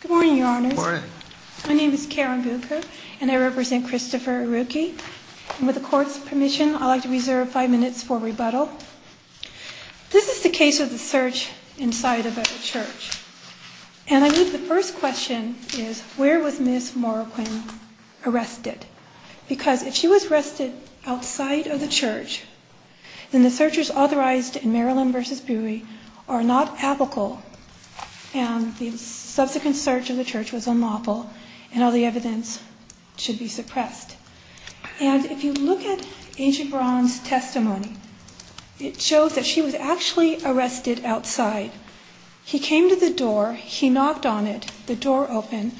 Good morning, Your Honors. My name is Karen Bucher, and I represent Christopher Iruke, and with the Court's permission, I'd like to reserve five minutes for rebuttal. This is the case of the search inside of a church, and I think the first question is, where was Miss Morroquin arrested? Because if she was arrested outside of the church, then the searches authorized in Maryland v. Bowie are not applicable, and the subsequent search of the church was unlawful, and all the evidence should be suppressed. And if you look at Agent Braun's testimony, it shows that she was actually arrested outside. He came to the door, he knocked on it, the door opened,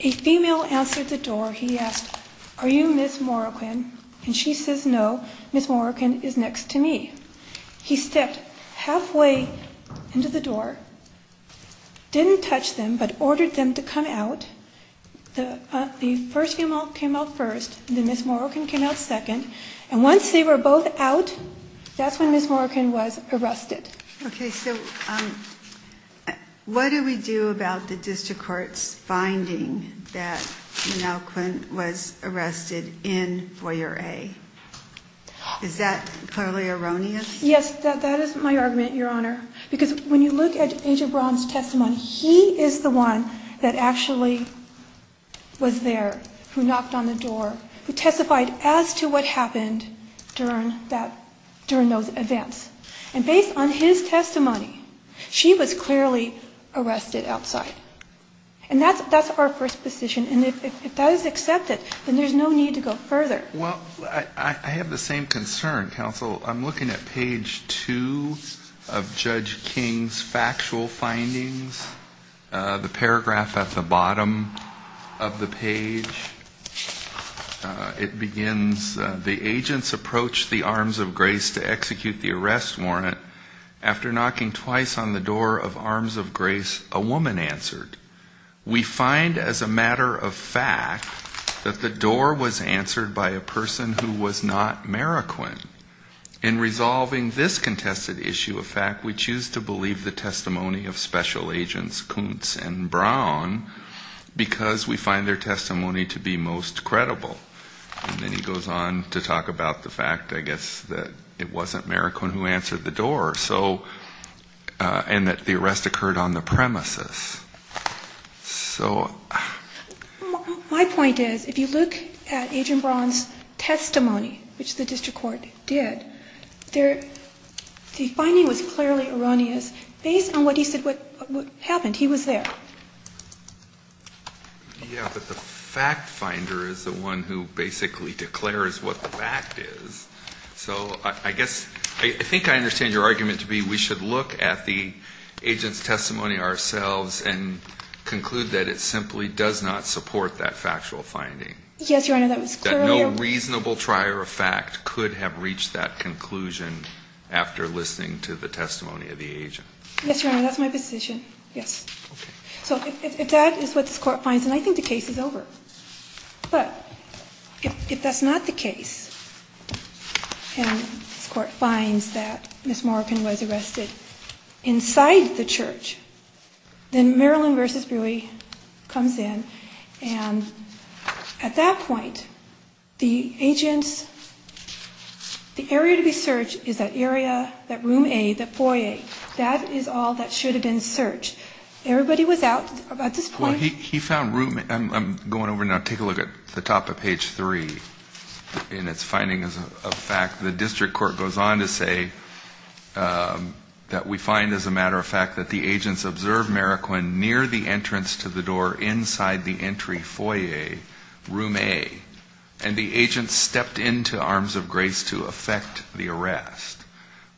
a female answered the door, he asked, Are you Miss Morroquin? And she says, No, Miss Morroquin is next to me. He stepped halfway into the door, didn't touch them, but ordered them to come out. The first female came out first, then Miss Morroquin came out second, and once they were both out, that's when Miss Morroquin was arrested. Okay, so what do we do about the District Court's finding that Miss Morroquin was arrested in Boyer A? Is that clearly erroneous? Yes, that is my argument, Your Honor, because when you look at Agent Braun's testimony, he is the one that actually was there, who knocked on the door, who testified as to what happened during those events. And based on his testimony, she was clearly arrested outside. And that's our first position, and if that is accepted, then there's no need to go further. Well, I have the same concern, counsel. I'm looking at page two of Judge King's factual findings, the paragraph at the bottom of the page. It begins, the agents approached the Arms of Grace to execute the arrest warrant. After knocking twice on the door of Arms of Grace, a woman answered. We find as a matter of fact that the door was answered by a person who was not Morroquin. In resolving this contested issue of fact, we choose to believe the testimony of Special Agents Kuntz and Braun, because we find their testimony to be most credible. And then he goes on to talk about the fact, I guess, that it wasn't Morroquin who answered the door, and that the arrest occurred on the premises. My point is, if you look at Agent Braun's testimony, which the district court did, the finding was clearly erroneous, based on what he said happened. He was there. Yeah, but the fact finder is the one who basically declares what the fact is. So I guess, I think I understand your argument to be we should look at the agent's testimony ourselves and conclude that it simply does not support that factual finding. Yes, Your Honor, that was clear. No reasonable trier of fact could have reached that conclusion after listening to the testimony of the agent. Yes, Your Honor, that's my position, yes. Okay. So if that is what this Court finds, then I think the case is over. But if that's not the case, and this Court finds that Miss Morroquin was arrested inside the church, then Maryland v. Brewery comes in. And at that point, the agent's, the area to be searched is that area, that room A, that foyer. That is all that should have been searched. Everybody was out at this point. Well, he found room, I'm going over now, take a look at the top of page 3. In its findings of fact, the district court goes on to say that we find, as a matter of fact, that the agents observed Morroquin near the entrance to the door inside the entry foyer, room A, and the agents stepped into arms of grace to effect the arrest.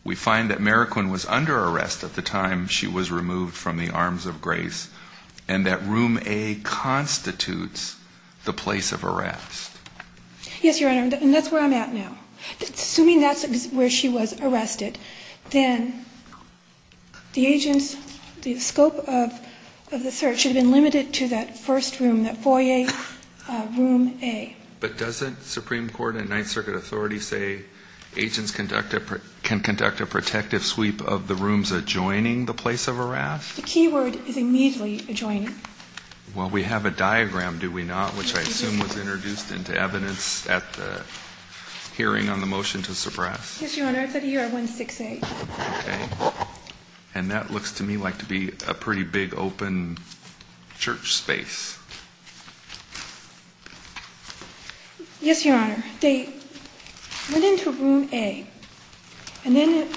We find that Morroquin was under arrest at the time she was removed from the arms of grace and that room A constitutes the place of arrest. Yes, Your Honor, and that's where I'm at now. Assuming that's where she was arrested, then the agents, the scope of the search, should have been limited to that first room, that foyer, room A. But doesn't Supreme Court and Ninth Circuit authority say agents can conduct a protective sweep of the rooms adjoining the place of arrest? The key word is immediately adjoining. Well, we have a diagram, do we not, which I assume was introduced into evidence at the hearing on the motion to suppress. Yes, Your Honor, it's at ER 168. Okay. And that looks to me like to be a pretty big open church space. Yes, Your Honor. They went into room A, and then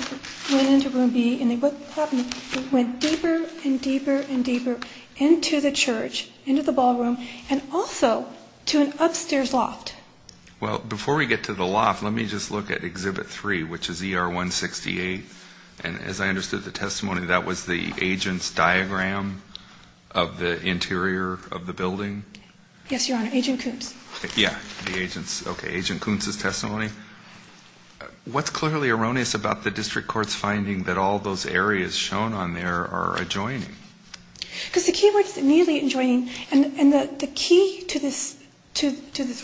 went into room B, and what happened, they went deeper and deeper and deeper into the church, into the ballroom, and also to an upstairs loft. Well, before we get to the loft, let me just look at Exhibit 3, which is ER 168. And as I understood the testimony, that was the agent's diagram of the interior of the building? Yes, Your Honor, Agent Coombs. Yeah, the agent's. Okay, Agent Coombs' testimony. What's clearly erroneous about the district court's finding that all those areas shown on there are adjoining? Because the key word is immediately adjoining, and the key to this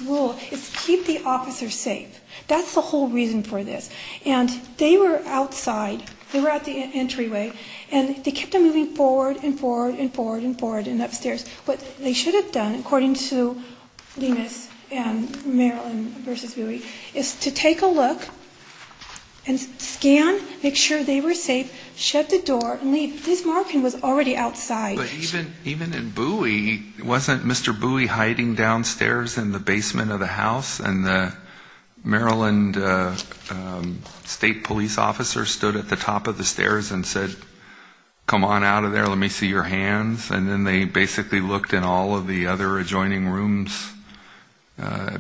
rule is keep the officers safe. That's the whole reason for this. And they were outside. They were at the entryway, and they kept on moving forward and forward and forward and forward and upstairs. What they should have done, according to Lemus and Maryland v. Bowie, is to take a look and scan, make sure they were safe, shut the door, and leave. This marking was already outside. But even in Bowie, wasn't Mr. Bowie hiding downstairs in the basement of the house, and the Maryland state police officer stood at the top of the stairs and said, Come on out of there. Let me see your hands. And then they basically looked in all of the other adjoining rooms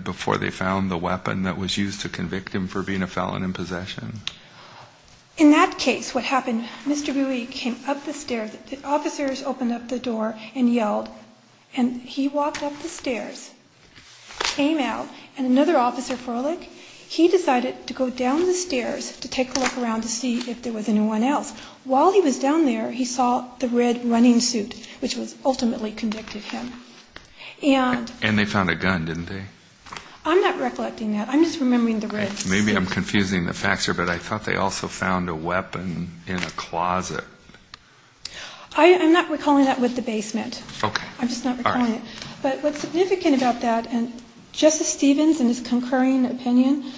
before they found the weapon that was used to convict him for being a felon in possession. In that case, what happened, Mr. Bowie came up the stairs, the officers opened up the door and yelled, and he walked up the stairs, came out, and another officer, Froelich, he decided to go down the stairs to take a look around to see if there was anyone else. While he was down there, he saw the red running suit, which was ultimately convicted him. And they found a gun, didn't they? I'm not recollecting that. I'm just remembering the red suit. Maybe I'm confusing the facts here, but I thought they also found a weapon in a closet. I'm not recalling that with the basement. Okay. I'm just not recalling it. But what's significant about that, and Justice Stevens, in his concurring opinion,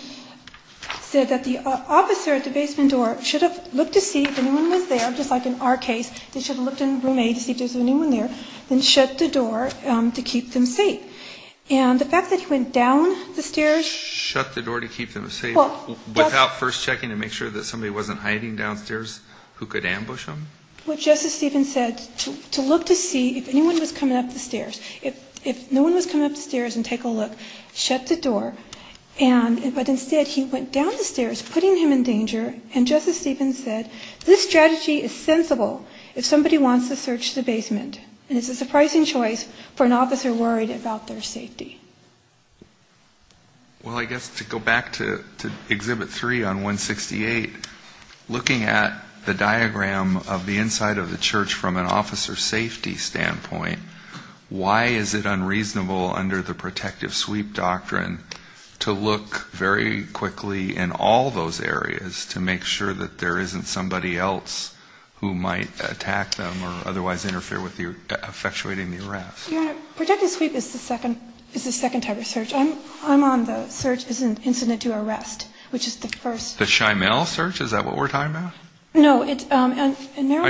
said that the officer at the basement door should have looked to see if anyone was there, just like in our case, they should have looked in room A to see if there was anyone there, then shut the door to keep them safe. And the fact that he went down the stairs. Shut the door to keep them safe without first checking to make sure that somebody wasn't hiding downstairs who could ambush them? Well, Justice Stevens said to look to see if anyone was coming up the stairs. If no one was coming up the stairs and take a look, shut the door, but instead he went down the stairs, putting him in danger, and Justice Stevens said, this strategy is sensible if somebody wants to search the basement. And it's a surprising choice for an officer worried about their safety. Well, I guess to go back to Exhibit 3 on 168, looking at the diagram of the inside of the church from an officer safety standpoint, why is it unreasonable under the protective sweep doctrine to look very quickly in all those areas to make sure that there isn't somebody else who might attack them or otherwise interfere with effectuating the arrest? Your Honor, protective sweep is the second type of search. I'm on the search as an incident to arrest, which is the first. The Shymel search? Is that what we're talking about? No. I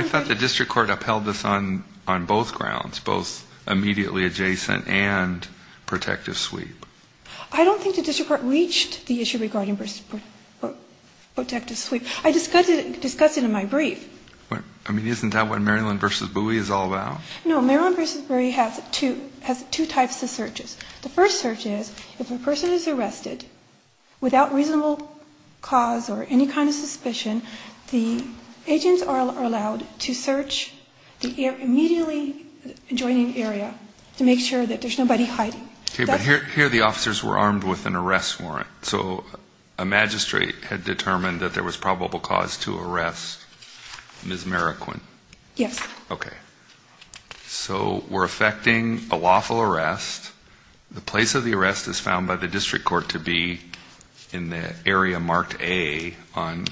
thought the district court upheld this on both grounds, both immediately adjacent and protective sweep. I don't think the district court reached the issue regarding protective sweep. I discussed it in my brief. I mean, isn't that what Maryland v. Bowie is all about? No. Maryland v. Bowie has two types of searches. The first search is if a person is arrested without reasonable cause or any kind of suspicion, the agents are allowed to search the immediately adjoining area to make sure that there's nobody hiding. Okay, but here the officers were armed with an arrest warrant. So a magistrate had determined that there was probable cause to arrest Ms. Marroquin. Yes. Okay. So we're effecting a lawful arrest. The place of the arrest is found by the district court to be in the area marked A on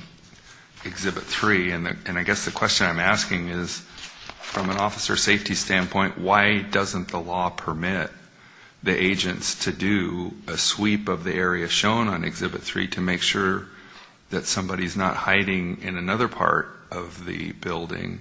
Exhibit 3. And I guess the question I'm asking is, from an officer safety standpoint, why doesn't the law permit the agents to do a sweep of the area shown on Exhibit 3 to make sure that somebody's not hiding in another part of the building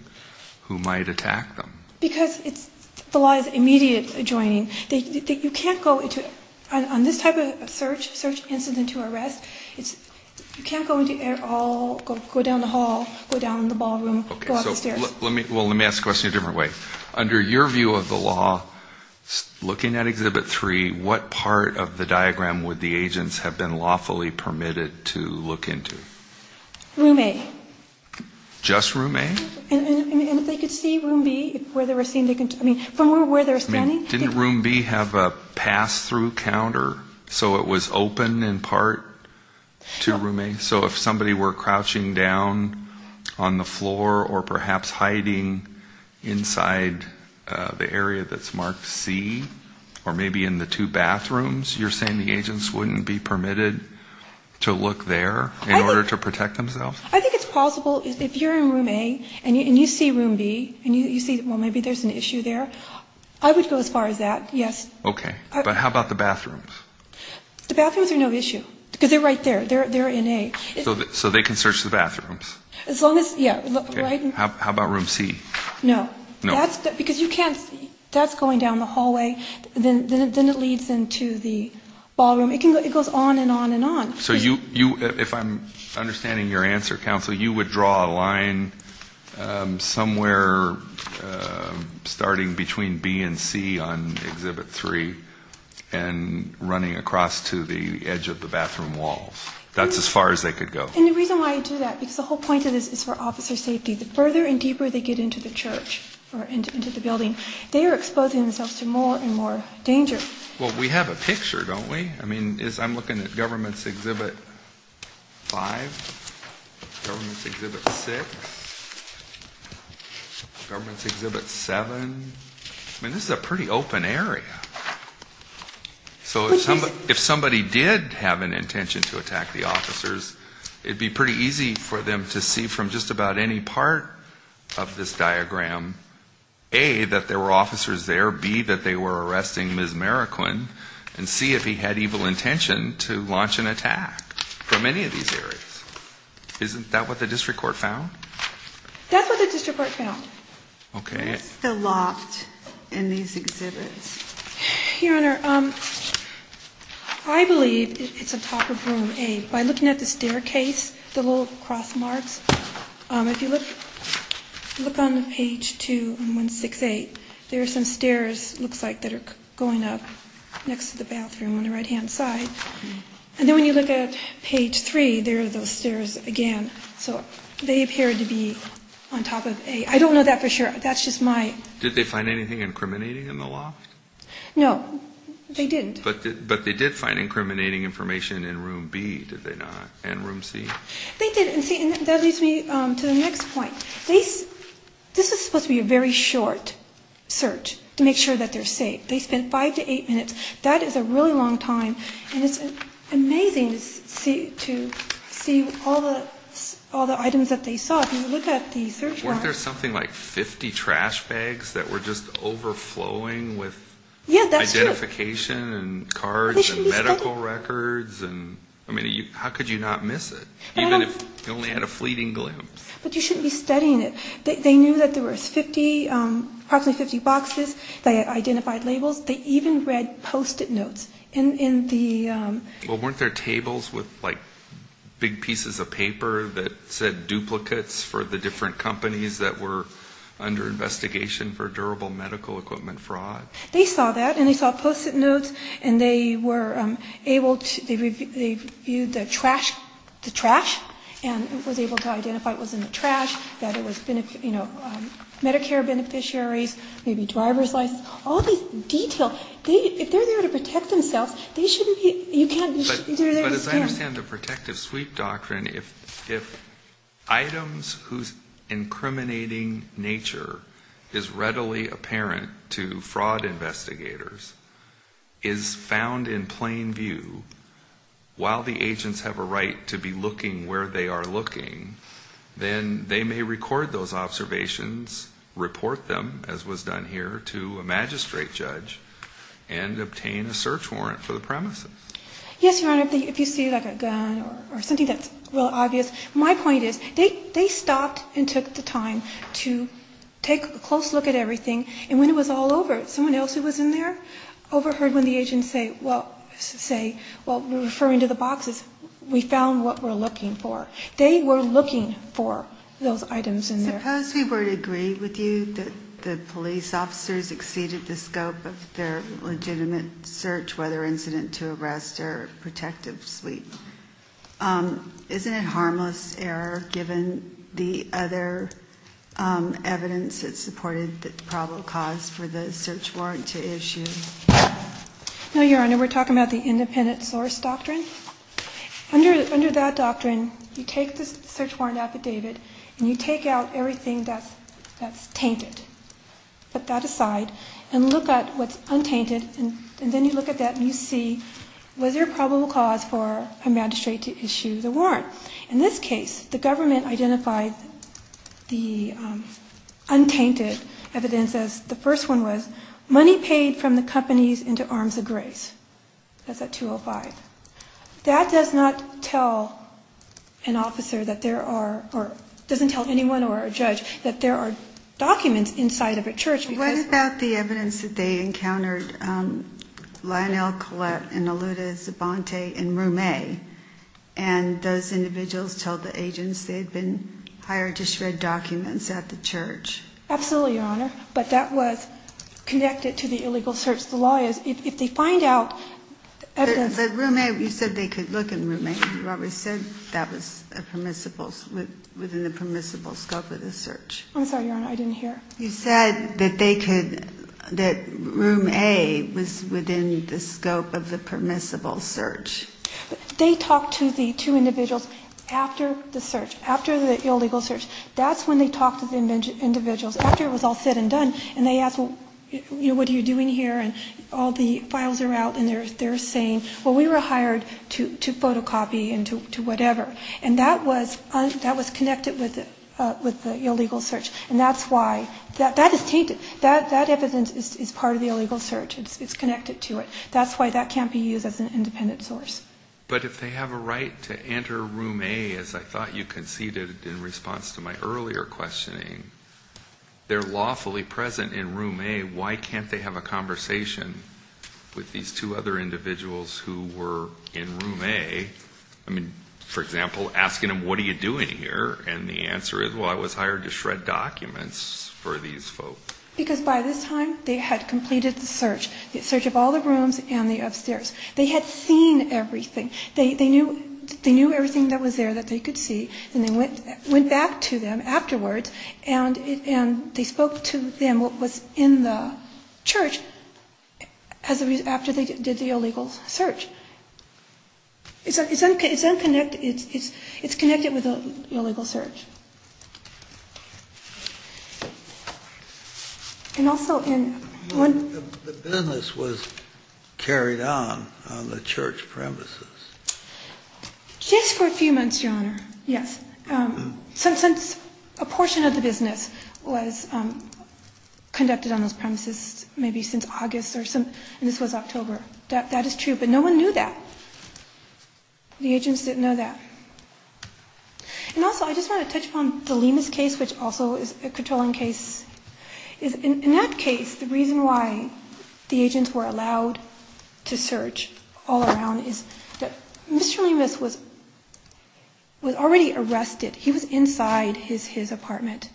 who might attack them? Because it's, the law is immediate adjoining. You can't go into, on this type of search, search incident to arrest, you can't go down the hall, go down the ballroom, go up the stairs. Well, let me ask the question a different way. Under your view of the law, looking at Exhibit 3, what part of the diagram would the agents have been lawfully permitted to look into? Room A. Just room A? And if they could see room B, where they were seen, I mean, from where they were standing? Didn't room B have a pass-through counter so it was open in part to room A? So if somebody were crouching down on the floor or perhaps hiding inside the area that's marked C, or maybe in the two bathrooms, you're saying the agents wouldn't be permitted to look there in order to protect themselves? I think it's possible if you're in room A and you see room B and you see, well, maybe there's an issue there. I would go as far as that, yes. Okay. But how about the bathrooms? The bathrooms are no issue because they're right there. They're in A. So they can search the bathrooms? As long as, yeah. How about room C? No. No? Because you can't, that's going down the hallway, then it leads into the ballroom. It goes on and on and on. So you, if I'm understanding your answer, Counsel, you would draw a line somewhere starting between B and C on Exhibit 3 and running across to the edge of the bathroom wall. That's as far as they could go. And the reason why I do that, because the whole point of this is for officer safety. The further and deeper they get into the church or into the building, they are exposing themselves to more and more danger. Well, we have a picture, don't we? I mean, I'm looking at Government's Exhibit 5, Government's Exhibit 6, Government's Exhibit 7. I mean, this is a pretty open area. So if somebody did have an intention to attack the officers, it would be pretty easy for them to see from just about any part of this diagram, A, that there were officers there, B, that they were arresting Ms. Marroquin, and C, if he had evil intention to launch an attack from any of these areas. Isn't that what the district court found? That's what the district court found. Okay. But it's still locked in these exhibits. Your Honor, I believe it's on top of Room A. By looking at the staircase, the little cross marks, if you look on page 2168, there are some stairs, it looks like, that are going up next to the bathroom on the right-hand side. And then when you look at page 3, there are those stairs again. So they appear to be on top of A. I don't know that for sure. That's just my ---- Did they find anything incriminating in the loft? No, they didn't. But they did find incriminating information in Room B, did they not, and Room C? They did. And see, that leads me to the next point. This is supposed to be a very short search to make sure that they're safe. They spent five to eight minutes. That is a really long time, and it's amazing to see all the items that they saw. If you look at the search bar ---- Weren't there something like 50 trash bags that were just overflowing with identification and cards and medical records? I mean, how could you not miss it, even if you only had a fleeting glimpse? But you shouldn't be studying it. They knew that there were approximately 50 boxes that identified labels. They even read Post-it notes in the ---- Well, weren't there tables with, like, big pieces of paper that said duplicates for the different companies that were under investigation for durable medical equipment fraud? They saw that, and they saw Post-it notes, and they were able to ---- They viewed the trash, and was able to identify what was in the trash, that it was, you know, Medicare beneficiaries, maybe driver's license, all these details. If they're there to protect themselves, they shouldn't be ---- But as I understand the protective sweep doctrine, if items whose incriminating nature is readily apparent to fraud investigators is found in plain view, while the agents have a right to be looking where they are looking, then they may record those observations, report them, as was done here, to a magistrate judge, and obtain a search warrant for the premises. Yes, Your Honor, if you see, like, a gun or something that's real obvious, my point is, they stopped and took the time to take a close look at everything, and when it was all over, someone else who was in there overheard when the agents say, well, we're referring to the boxes, we found what we're looking for. They were looking for those items in there. Suppose we were to agree with you that the police officers exceeded the scope of their legitimate search, whether incident to arrest or protective sweep. Isn't it harmless error, given the other evidence that supported the probable cause for the search warrant to issue? No, Your Honor, we're talking about the independent source doctrine. Under that doctrine, you take the search warrant affidavit, and you take out everything that's tainted. Put that aside and look at what's untainted, and then you look at that and you see, was there a probable cause for a magistrate to issue the warrant? In this case, the government identified the untainted evidence as, the first one was, money paid from the companies into arms of grace. That's at 205. That does not tell an officer that there are, or doesn't tell anyone or a judge, that there are documents inside of a church. What about the evidence that they encountered Lionel Collette and Aluda Zabante in Room A, and those individuals told the agents they had been hired to shred documents at the church? Absolutely, Your Honor, but that was connected to the illegal search. But Room A, you said they could look in Room A. You always said that was within the permissible scope of the search. I'm sorry, Your Honor, I didn't hear. You said that they could, that Room A was within the scope of the permissible search. They talked to the two individuals after the search, after the illegal search. That's when they talked to the individuals, after it was all said and done, and they asked, well, what are you doing here, and all the files are out, and they're saying, well, we were hired to photocopy and to whatever. And that was connected with the illegal search, and that's why. That is tainted. That evidence is part of the illegal search. It's connected to it. That's why that can't be used as an independent source. But if they have a right to enter Room A, as I thought you conceded in response to my earlier questioning, they're lawfully present in Room A. Why can't they have a conversation with these two other individuals who were in Room A? I mean, for example, asking them, what are you doing here? And the answer is, well, I was hired to shred documents for these folks. Because by this time they had completed the search, the search of all the rooms and the upstairs. They had seen everything. They knew everything that was there that they could see, and they went back to them afterwards, and they spoke to them, what was in the church, after they did the illegal search. It's connected with the illegal search. And also in one of the... The business was carried on on the church premises. Just for a few months, Your Honor. Yes. Since a portion of the business was conducted on those premises, maybe since August. And this was October. That is true. But no one knew that. The agents didn't know that. And also, I just want to touch upon the Lemus case, which also is a controlling case. In that case, the reason why the agents were allowed to search all around is that Mr. Lemus was already arrested. He was inside his apartment,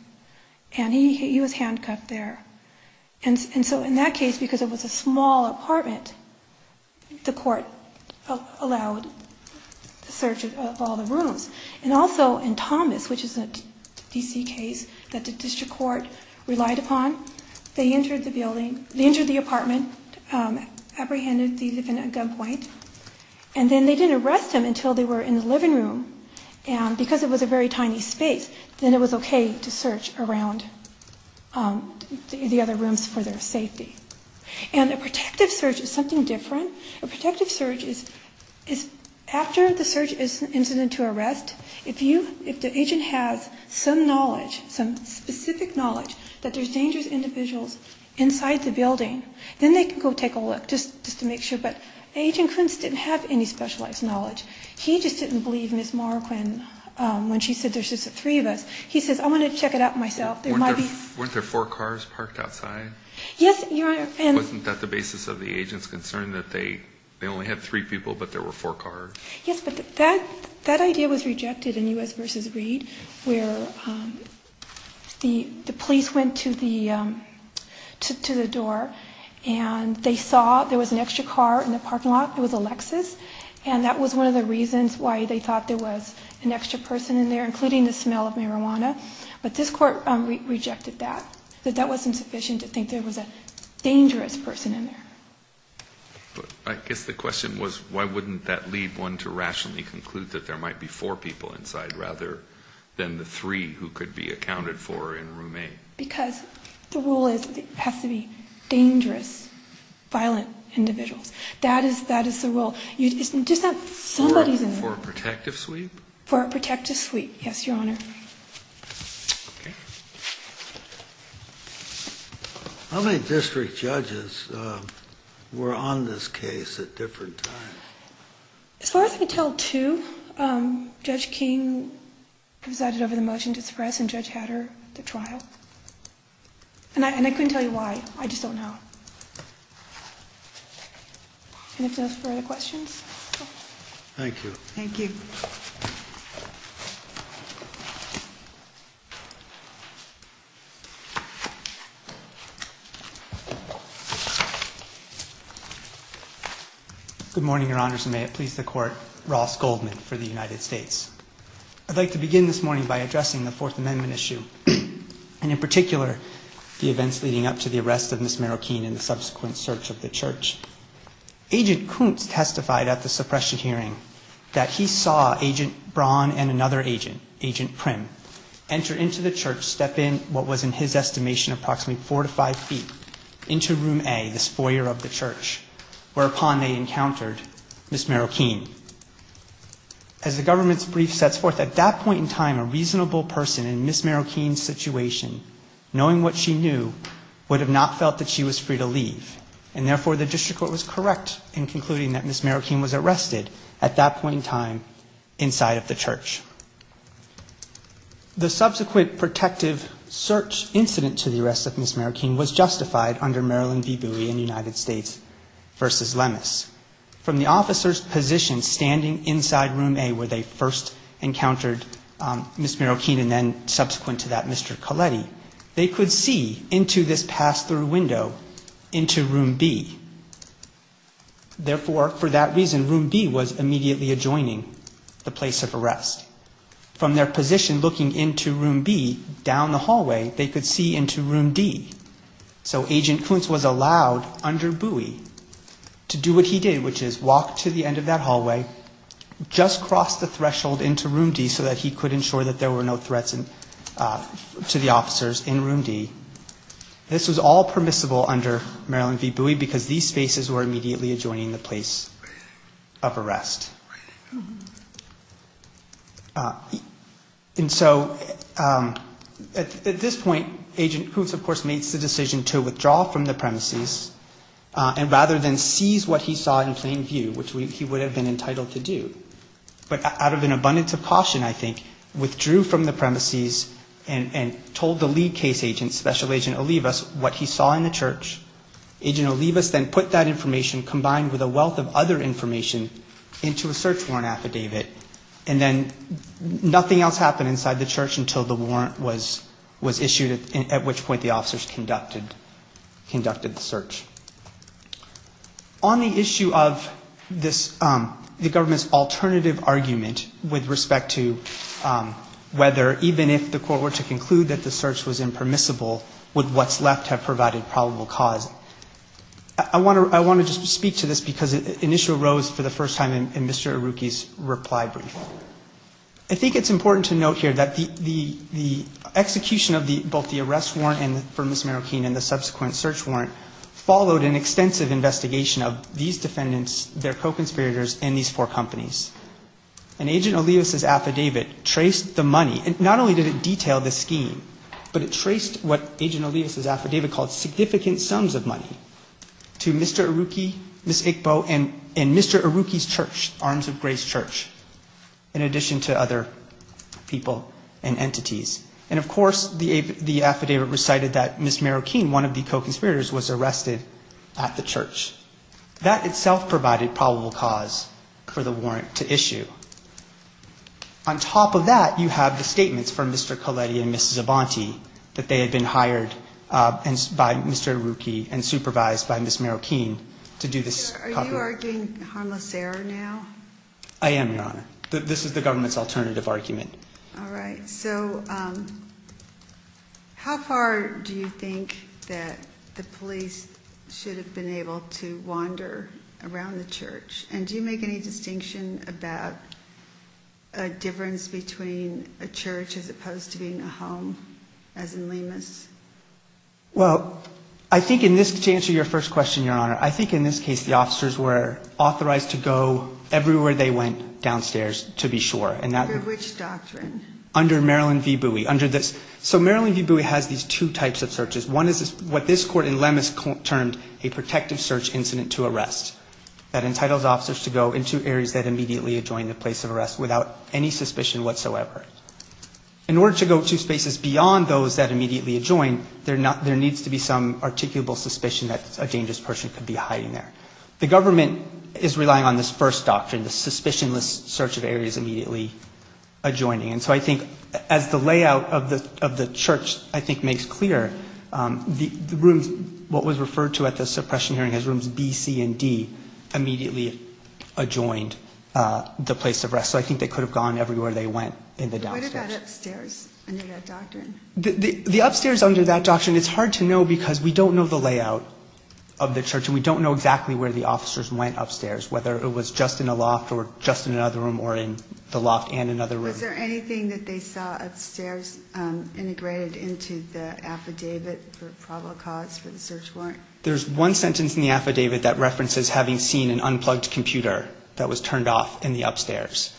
and he was handcuffed there. And so in that case, because it was a small apartment, the court allowed the search of all the rooms. And also in Thomas, which is a D.C. case that the district court relied upon, they entered the apartment, apprehended the defendant at gunpoint, and then they didn't arrest him until they were in the living room. And because it was a very tiny space, then it was okay to search around the other rooms for their safety. And a protective search is something different. A protective search is after the search is incident to arrest, if the agent has some knowledge, some specific knowledge, that there's dangerous individuals inside the building, then they can go take a look just to make sure. But Agent Kuntz didn't have any specialized knowledge. He just didn't believe Ms. Marquin when she said there's just the three of us. He says, I want to check it out myself. Yes, Your Honor. Wasn't that the basis of the agent's concern, that they only had three people but there were four cars? Yes, but that idea was rejected in U.S. v. Reed, where the police went to the door and they saw there was an extra car in the parking lot. It was a Lexus. And that was one of the reasons why they thought there was an extra person in there, including the smell of marijuana. But this court rejected that. That that wasn't sufficient to think there was a dangerous person in there. But I guess the question was, why wouldn't that lead one to rationally conclude that there might be four people inside rather than the three who could be accounted for in room A? Because the rule is it has to be dangerous, violent individuals. That is the rule. It's just that somebody's in there. For a protective sweep? For a protective sweep, yes, Your Honor. How many district judges were on this case at different times? As far as I can tell, two. Judge King presided over the motion to suppress and Judge Hatter the trial. And I couldn't tell you why. I just don't know. Any further questions? Thank you. Thank you. Good morning, Your Honors, and may it please the Court. Ross Goldman for the United States. I'd like to begin this morning by addressing the Fourth Amendment issue. And in particular, the events leading up to the arrest of Ms. Marroquin and the subsequent search of the church. Agent Kuntz testified at the suppression hearing that he saw that Ms. Marroquin saw Agent Braun and another agent, Agent Prim, enter into the church, step in what was in his estimation approximately four to five feet, into room A, this foyer of the church, whereupon they encountered Ms. Marroquin. As the government's brief sets forth, at that point in time, a reasonable person in Ms. Marroquin's situation, knowing what she knew, would have not felt that she was free to leave. And therefore, the district court was correct in concluding that Ms. Marroquin was arrested at that point in time inside of the church. The subsequent protective search incident to the arrest of Ms. Marroquin was justified under Maryland v. Bowie and United States v. Lemus. From the officer's position standing inside room A, where they first encountered Ms. Marroquin and then subsequent to that, Mr. Colletti, they could see into this pass-through window into room B. Therefore, for that reason, room B was immediately adjoining the place of arrest. From their position looking into room B, down the hallway, they could see into room D. So Agent Kuntz was allowed under Bowie to do what he did, which is walk to the end of that hallway, just cross the threshold into room D so that he could ensure that there were no threats to the officers in room D. This was all permissible under Maryland v. Bowie because these spaces were immediately adjoining the place of arrest. And so at this point, Agent Kuntz, of course, makes the decision to withdraw from the premises and rather than seize what he saw in plain view, which he would have been entitled to do, but out of an abundance of caution, I think, withdrew from the premises and told the lead case agent, Special Agent Olivas, what he saw in the church. Agent Olivas then put that information, combined with a wealth of other information, into a search warrant affidavit. And then nothing else happened inside the church until the warrant was issued, at which point the officers conducted the search. On the issue of the government's alternative argument with respect to whether, even if the court were to conclude that the search was impermissible, would what's left have provided probable cause? I want to just speak to this, because an issue arose for the first time in Mr. Arouki's reply brief. I think it's important to note here that the execution of both the arrest warrant for Ms. Marroquin and the subsequent search warrant followed an extensive investigation of these defendants, their co-conspirators, and these four companies. And Agent Olivas' affidavit traced the money. And not only did it detail the scheme, but it traced what Agent Olivas' affidavit called significant sums of money to Mr. Arouki, Ms. Iqbal, and Mr. Arouki's church, Arms of Grace Church, in addition to other people and entities. And, of course, the affidavit recited that Ms. Marroquin, one of the co-conspirators, was arrested at the church. That itself provided probable cause for the warrant to issue. On top of that, you have the statements from Mr. Colletti and Ms. Zobanti that they had been hired by Mr. Arouki and supervised by Ms. Marroquin to do this. Are you arguing harmless error now? I am, Your Honor. This is the government's alternative argument. All right. So how far do you think that the police should have been able to wander around the church? And do you make any distinction about a difference between a church as opposed to being a home, as in Lemus? Well, I think in this, to answer your first question, Your Honor, I think in this case the officers were authorized to go everywhere they went downstairs, to be sure. Under which doctrine? Under Maryland v. Bowie. So Maryland v. Bowie has these two types of searches. One is what this court in Lemus termed a protective search incident to arrest. That entitles officers to go into areas that immediately adjoin the place of arrest without any suspicion whatsoever. In order to go to spaces beyond those that immediately adjoin, there needs to be some articulable suspicion that a dangerous person could be hiding there. The government is relying on this first doctrine, the suspicionless search of areas immediately adjoining. And so I think as the layout of the church, I think, makes clear, the rooms, what was referred to at the suppression hearing as rooms B, C, and D, immediately adjoined the place of arrest. So I think they could have gone everywhere they went in the downstairs. What about upstairs under that doctrine? The upstairs under that doctrine, it's hard to know because we don't know the layout of the church and we don't know exactly where the officers went upstairs, whether it was just in a loft or just in another room or in the loft and another room. Is there anything that they saw upstairs integrated into the affidavit for probable cause for the search warrant? There's one sentence in the affidavit that references having seen an unplugged computer that was turned off in the upstairs.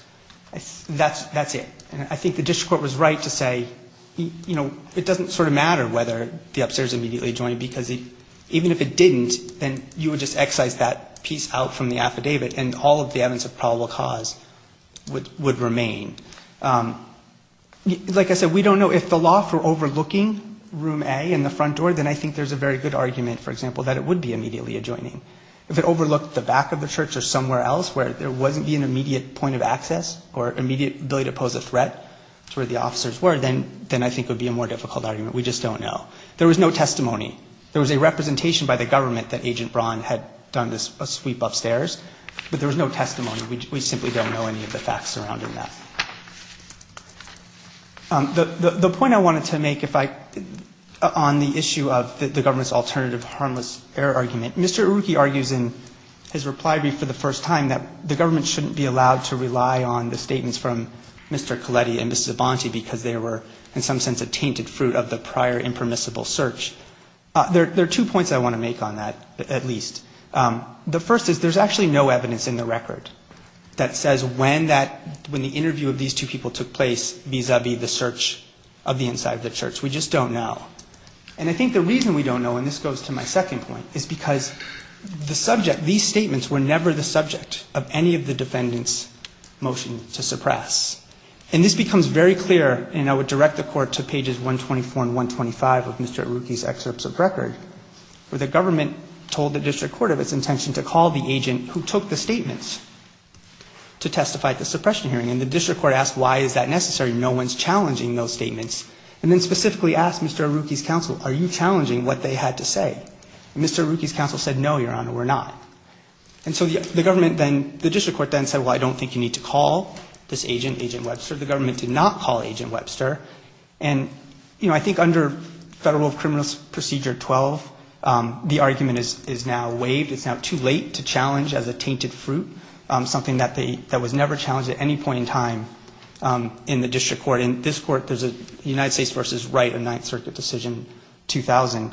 That's it. And I think the district court was right to say, you know, it doesn't sort of matter whether the upstairs immediately adjoined because even if it didn't, then you would just excise that piece out from the affidavit and all of the evidence of probable cause would remain. Like I said, we don't know. If the loft were overlooking room A in the front door, then I think there's a very good argument, for example, that it would be immediately adjoining. If it overlooked the back of the church or somewhere else where there wasn't the immediate point of access or immediate ability to pose a threat to where the officers were, then I think it would be a more difficult argument. We just don't know. There was no testimony. There was a representation by the government that Agent Braun had done a sweep upstairs, but there was no testimony. We simply don't know any of the facts surrounding that. The point I wanted to make on the issue of the government's alternative harmless error argument, Mr. Iruki argues in his reply brief for the first time that the government shouldn't be allowed to rely on the statements from Mr. Colletti and Mrs. Abonte because they were in some sense a tainted fruit of the prior impermissible search. There are two points I want to make on that, at least. The first is there's actually no evidence in the record that says when the interview of these two people took place vis-a-vis the search of the inside of the church. We just don't know. And I think the reason we don't know, and this goes to my second point, is because the subject, these statements were never the subject of any of the defendants' motion to suppress. And this becomes very clear, and I would direct the Court to pages 124 and 125 of Mr. Iruki's excerpts of record, where the government told the district court of its intention to call the agent who took the statements to testify at the suppression hearing. And the district court asked why is that necessary. No one's challenging those statements. And then specifically asked Mr. Iruki's counsel, are you challenging what they had to say? Mr. Iruki's counsel said, no, Your Honor, we're not. And so the government then, the district court then said, well, I don't think you need to call this agent, Agent Webster. The government did not call Agent Webster. And, you know, I think under Federal Criminal Procedure 12, the argument is now waived. It's now too late to challenge as a tainted fruit something that was never challenged at any point in time in the district court. In this court, there's a United States v. Wright, a Ninth Circuit decision, 2000,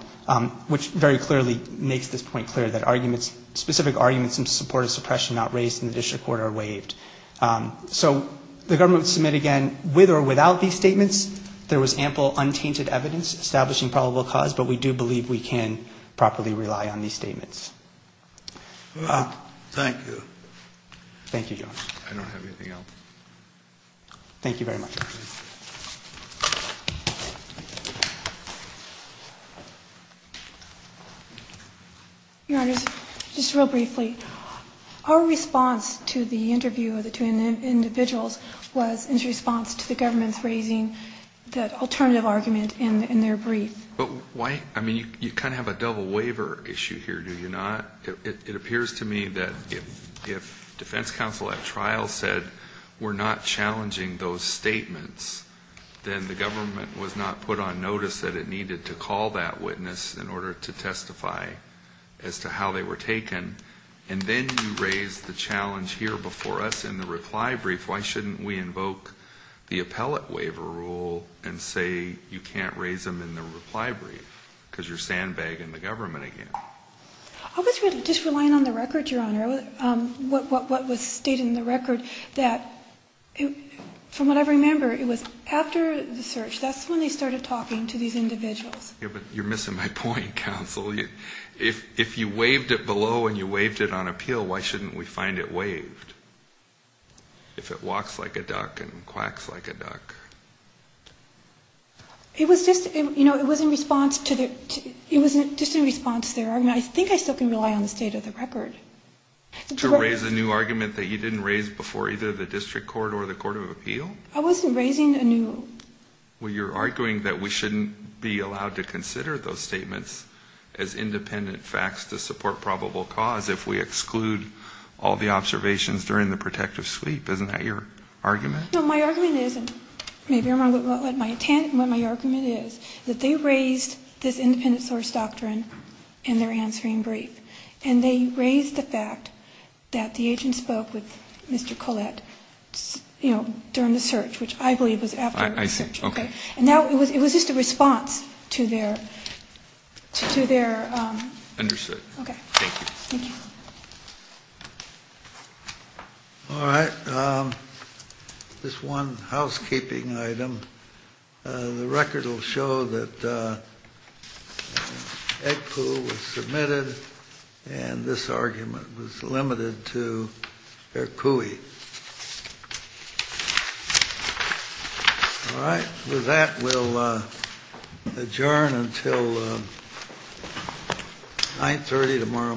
which very clearly makes this point clear, that arguments, specific arguments in support of suppression not raised in the district court are waived. So the government would submit again, with or without these statements, there was ample untainted evidence establishing probable cause, but we do believe we can properly rely on these statements. Thank you. Thank you, Your Honor. I don't have anything else. Thank you very much. Your Honor, just real briefly, our response to the interview of the two individuals was in response to the government's raising the alternative argument in their brief. But why? I mean, you kind of have a double waiver issue here, do you not? It appears to me that if defense counsel at trial said we're not challenging those statements, then the government was not put on notice that it needed to call that witness in order to testify as to how they were taken. And then you raise the challenge here before us in the reply brief. Why shouldn't we invoke the appellate waiver rule and say you can't raise them in the reply brief because you're sandbagging the government again? I was just relying on the record, Your Honor, what was stated in the record that, from what I remember, it was after the search, that's when they started talking to these individuals. Yeah, but you're missing my point, counsel. If you waived it below and you waived it on appeal, why shouldn't we find it waived? If it walks like a duck and quacks like a duck. It was just, you know, it was in response to their argument. I think I still can rely on the state of the record. To raise a new argument that you didn't raise before either the district court or the court of appeal? I wasn't raising a new. Well, you're arguing that we shouldn't be allowed to consider those statements as independent facts to support probable cause if we exclude all the observations during the protective sweep. Isn't that your argument? No, my argument isn't. Maybe I'm wrong, but my argument is that they raised this independent source doctrine in their answering brief, and they raised the fact that the agent spoke with Mr. Collette, you know, during the search, which I believe was after the search. I see. Okay. And now it was just a response to their. Understood. Okay. Thank you. All right. This one housekeeping item. The record will show that. Egg pool was submitted. And this argument was limited to her cooey. All right. With that, we'll adjourn until 930 tomorrow morning.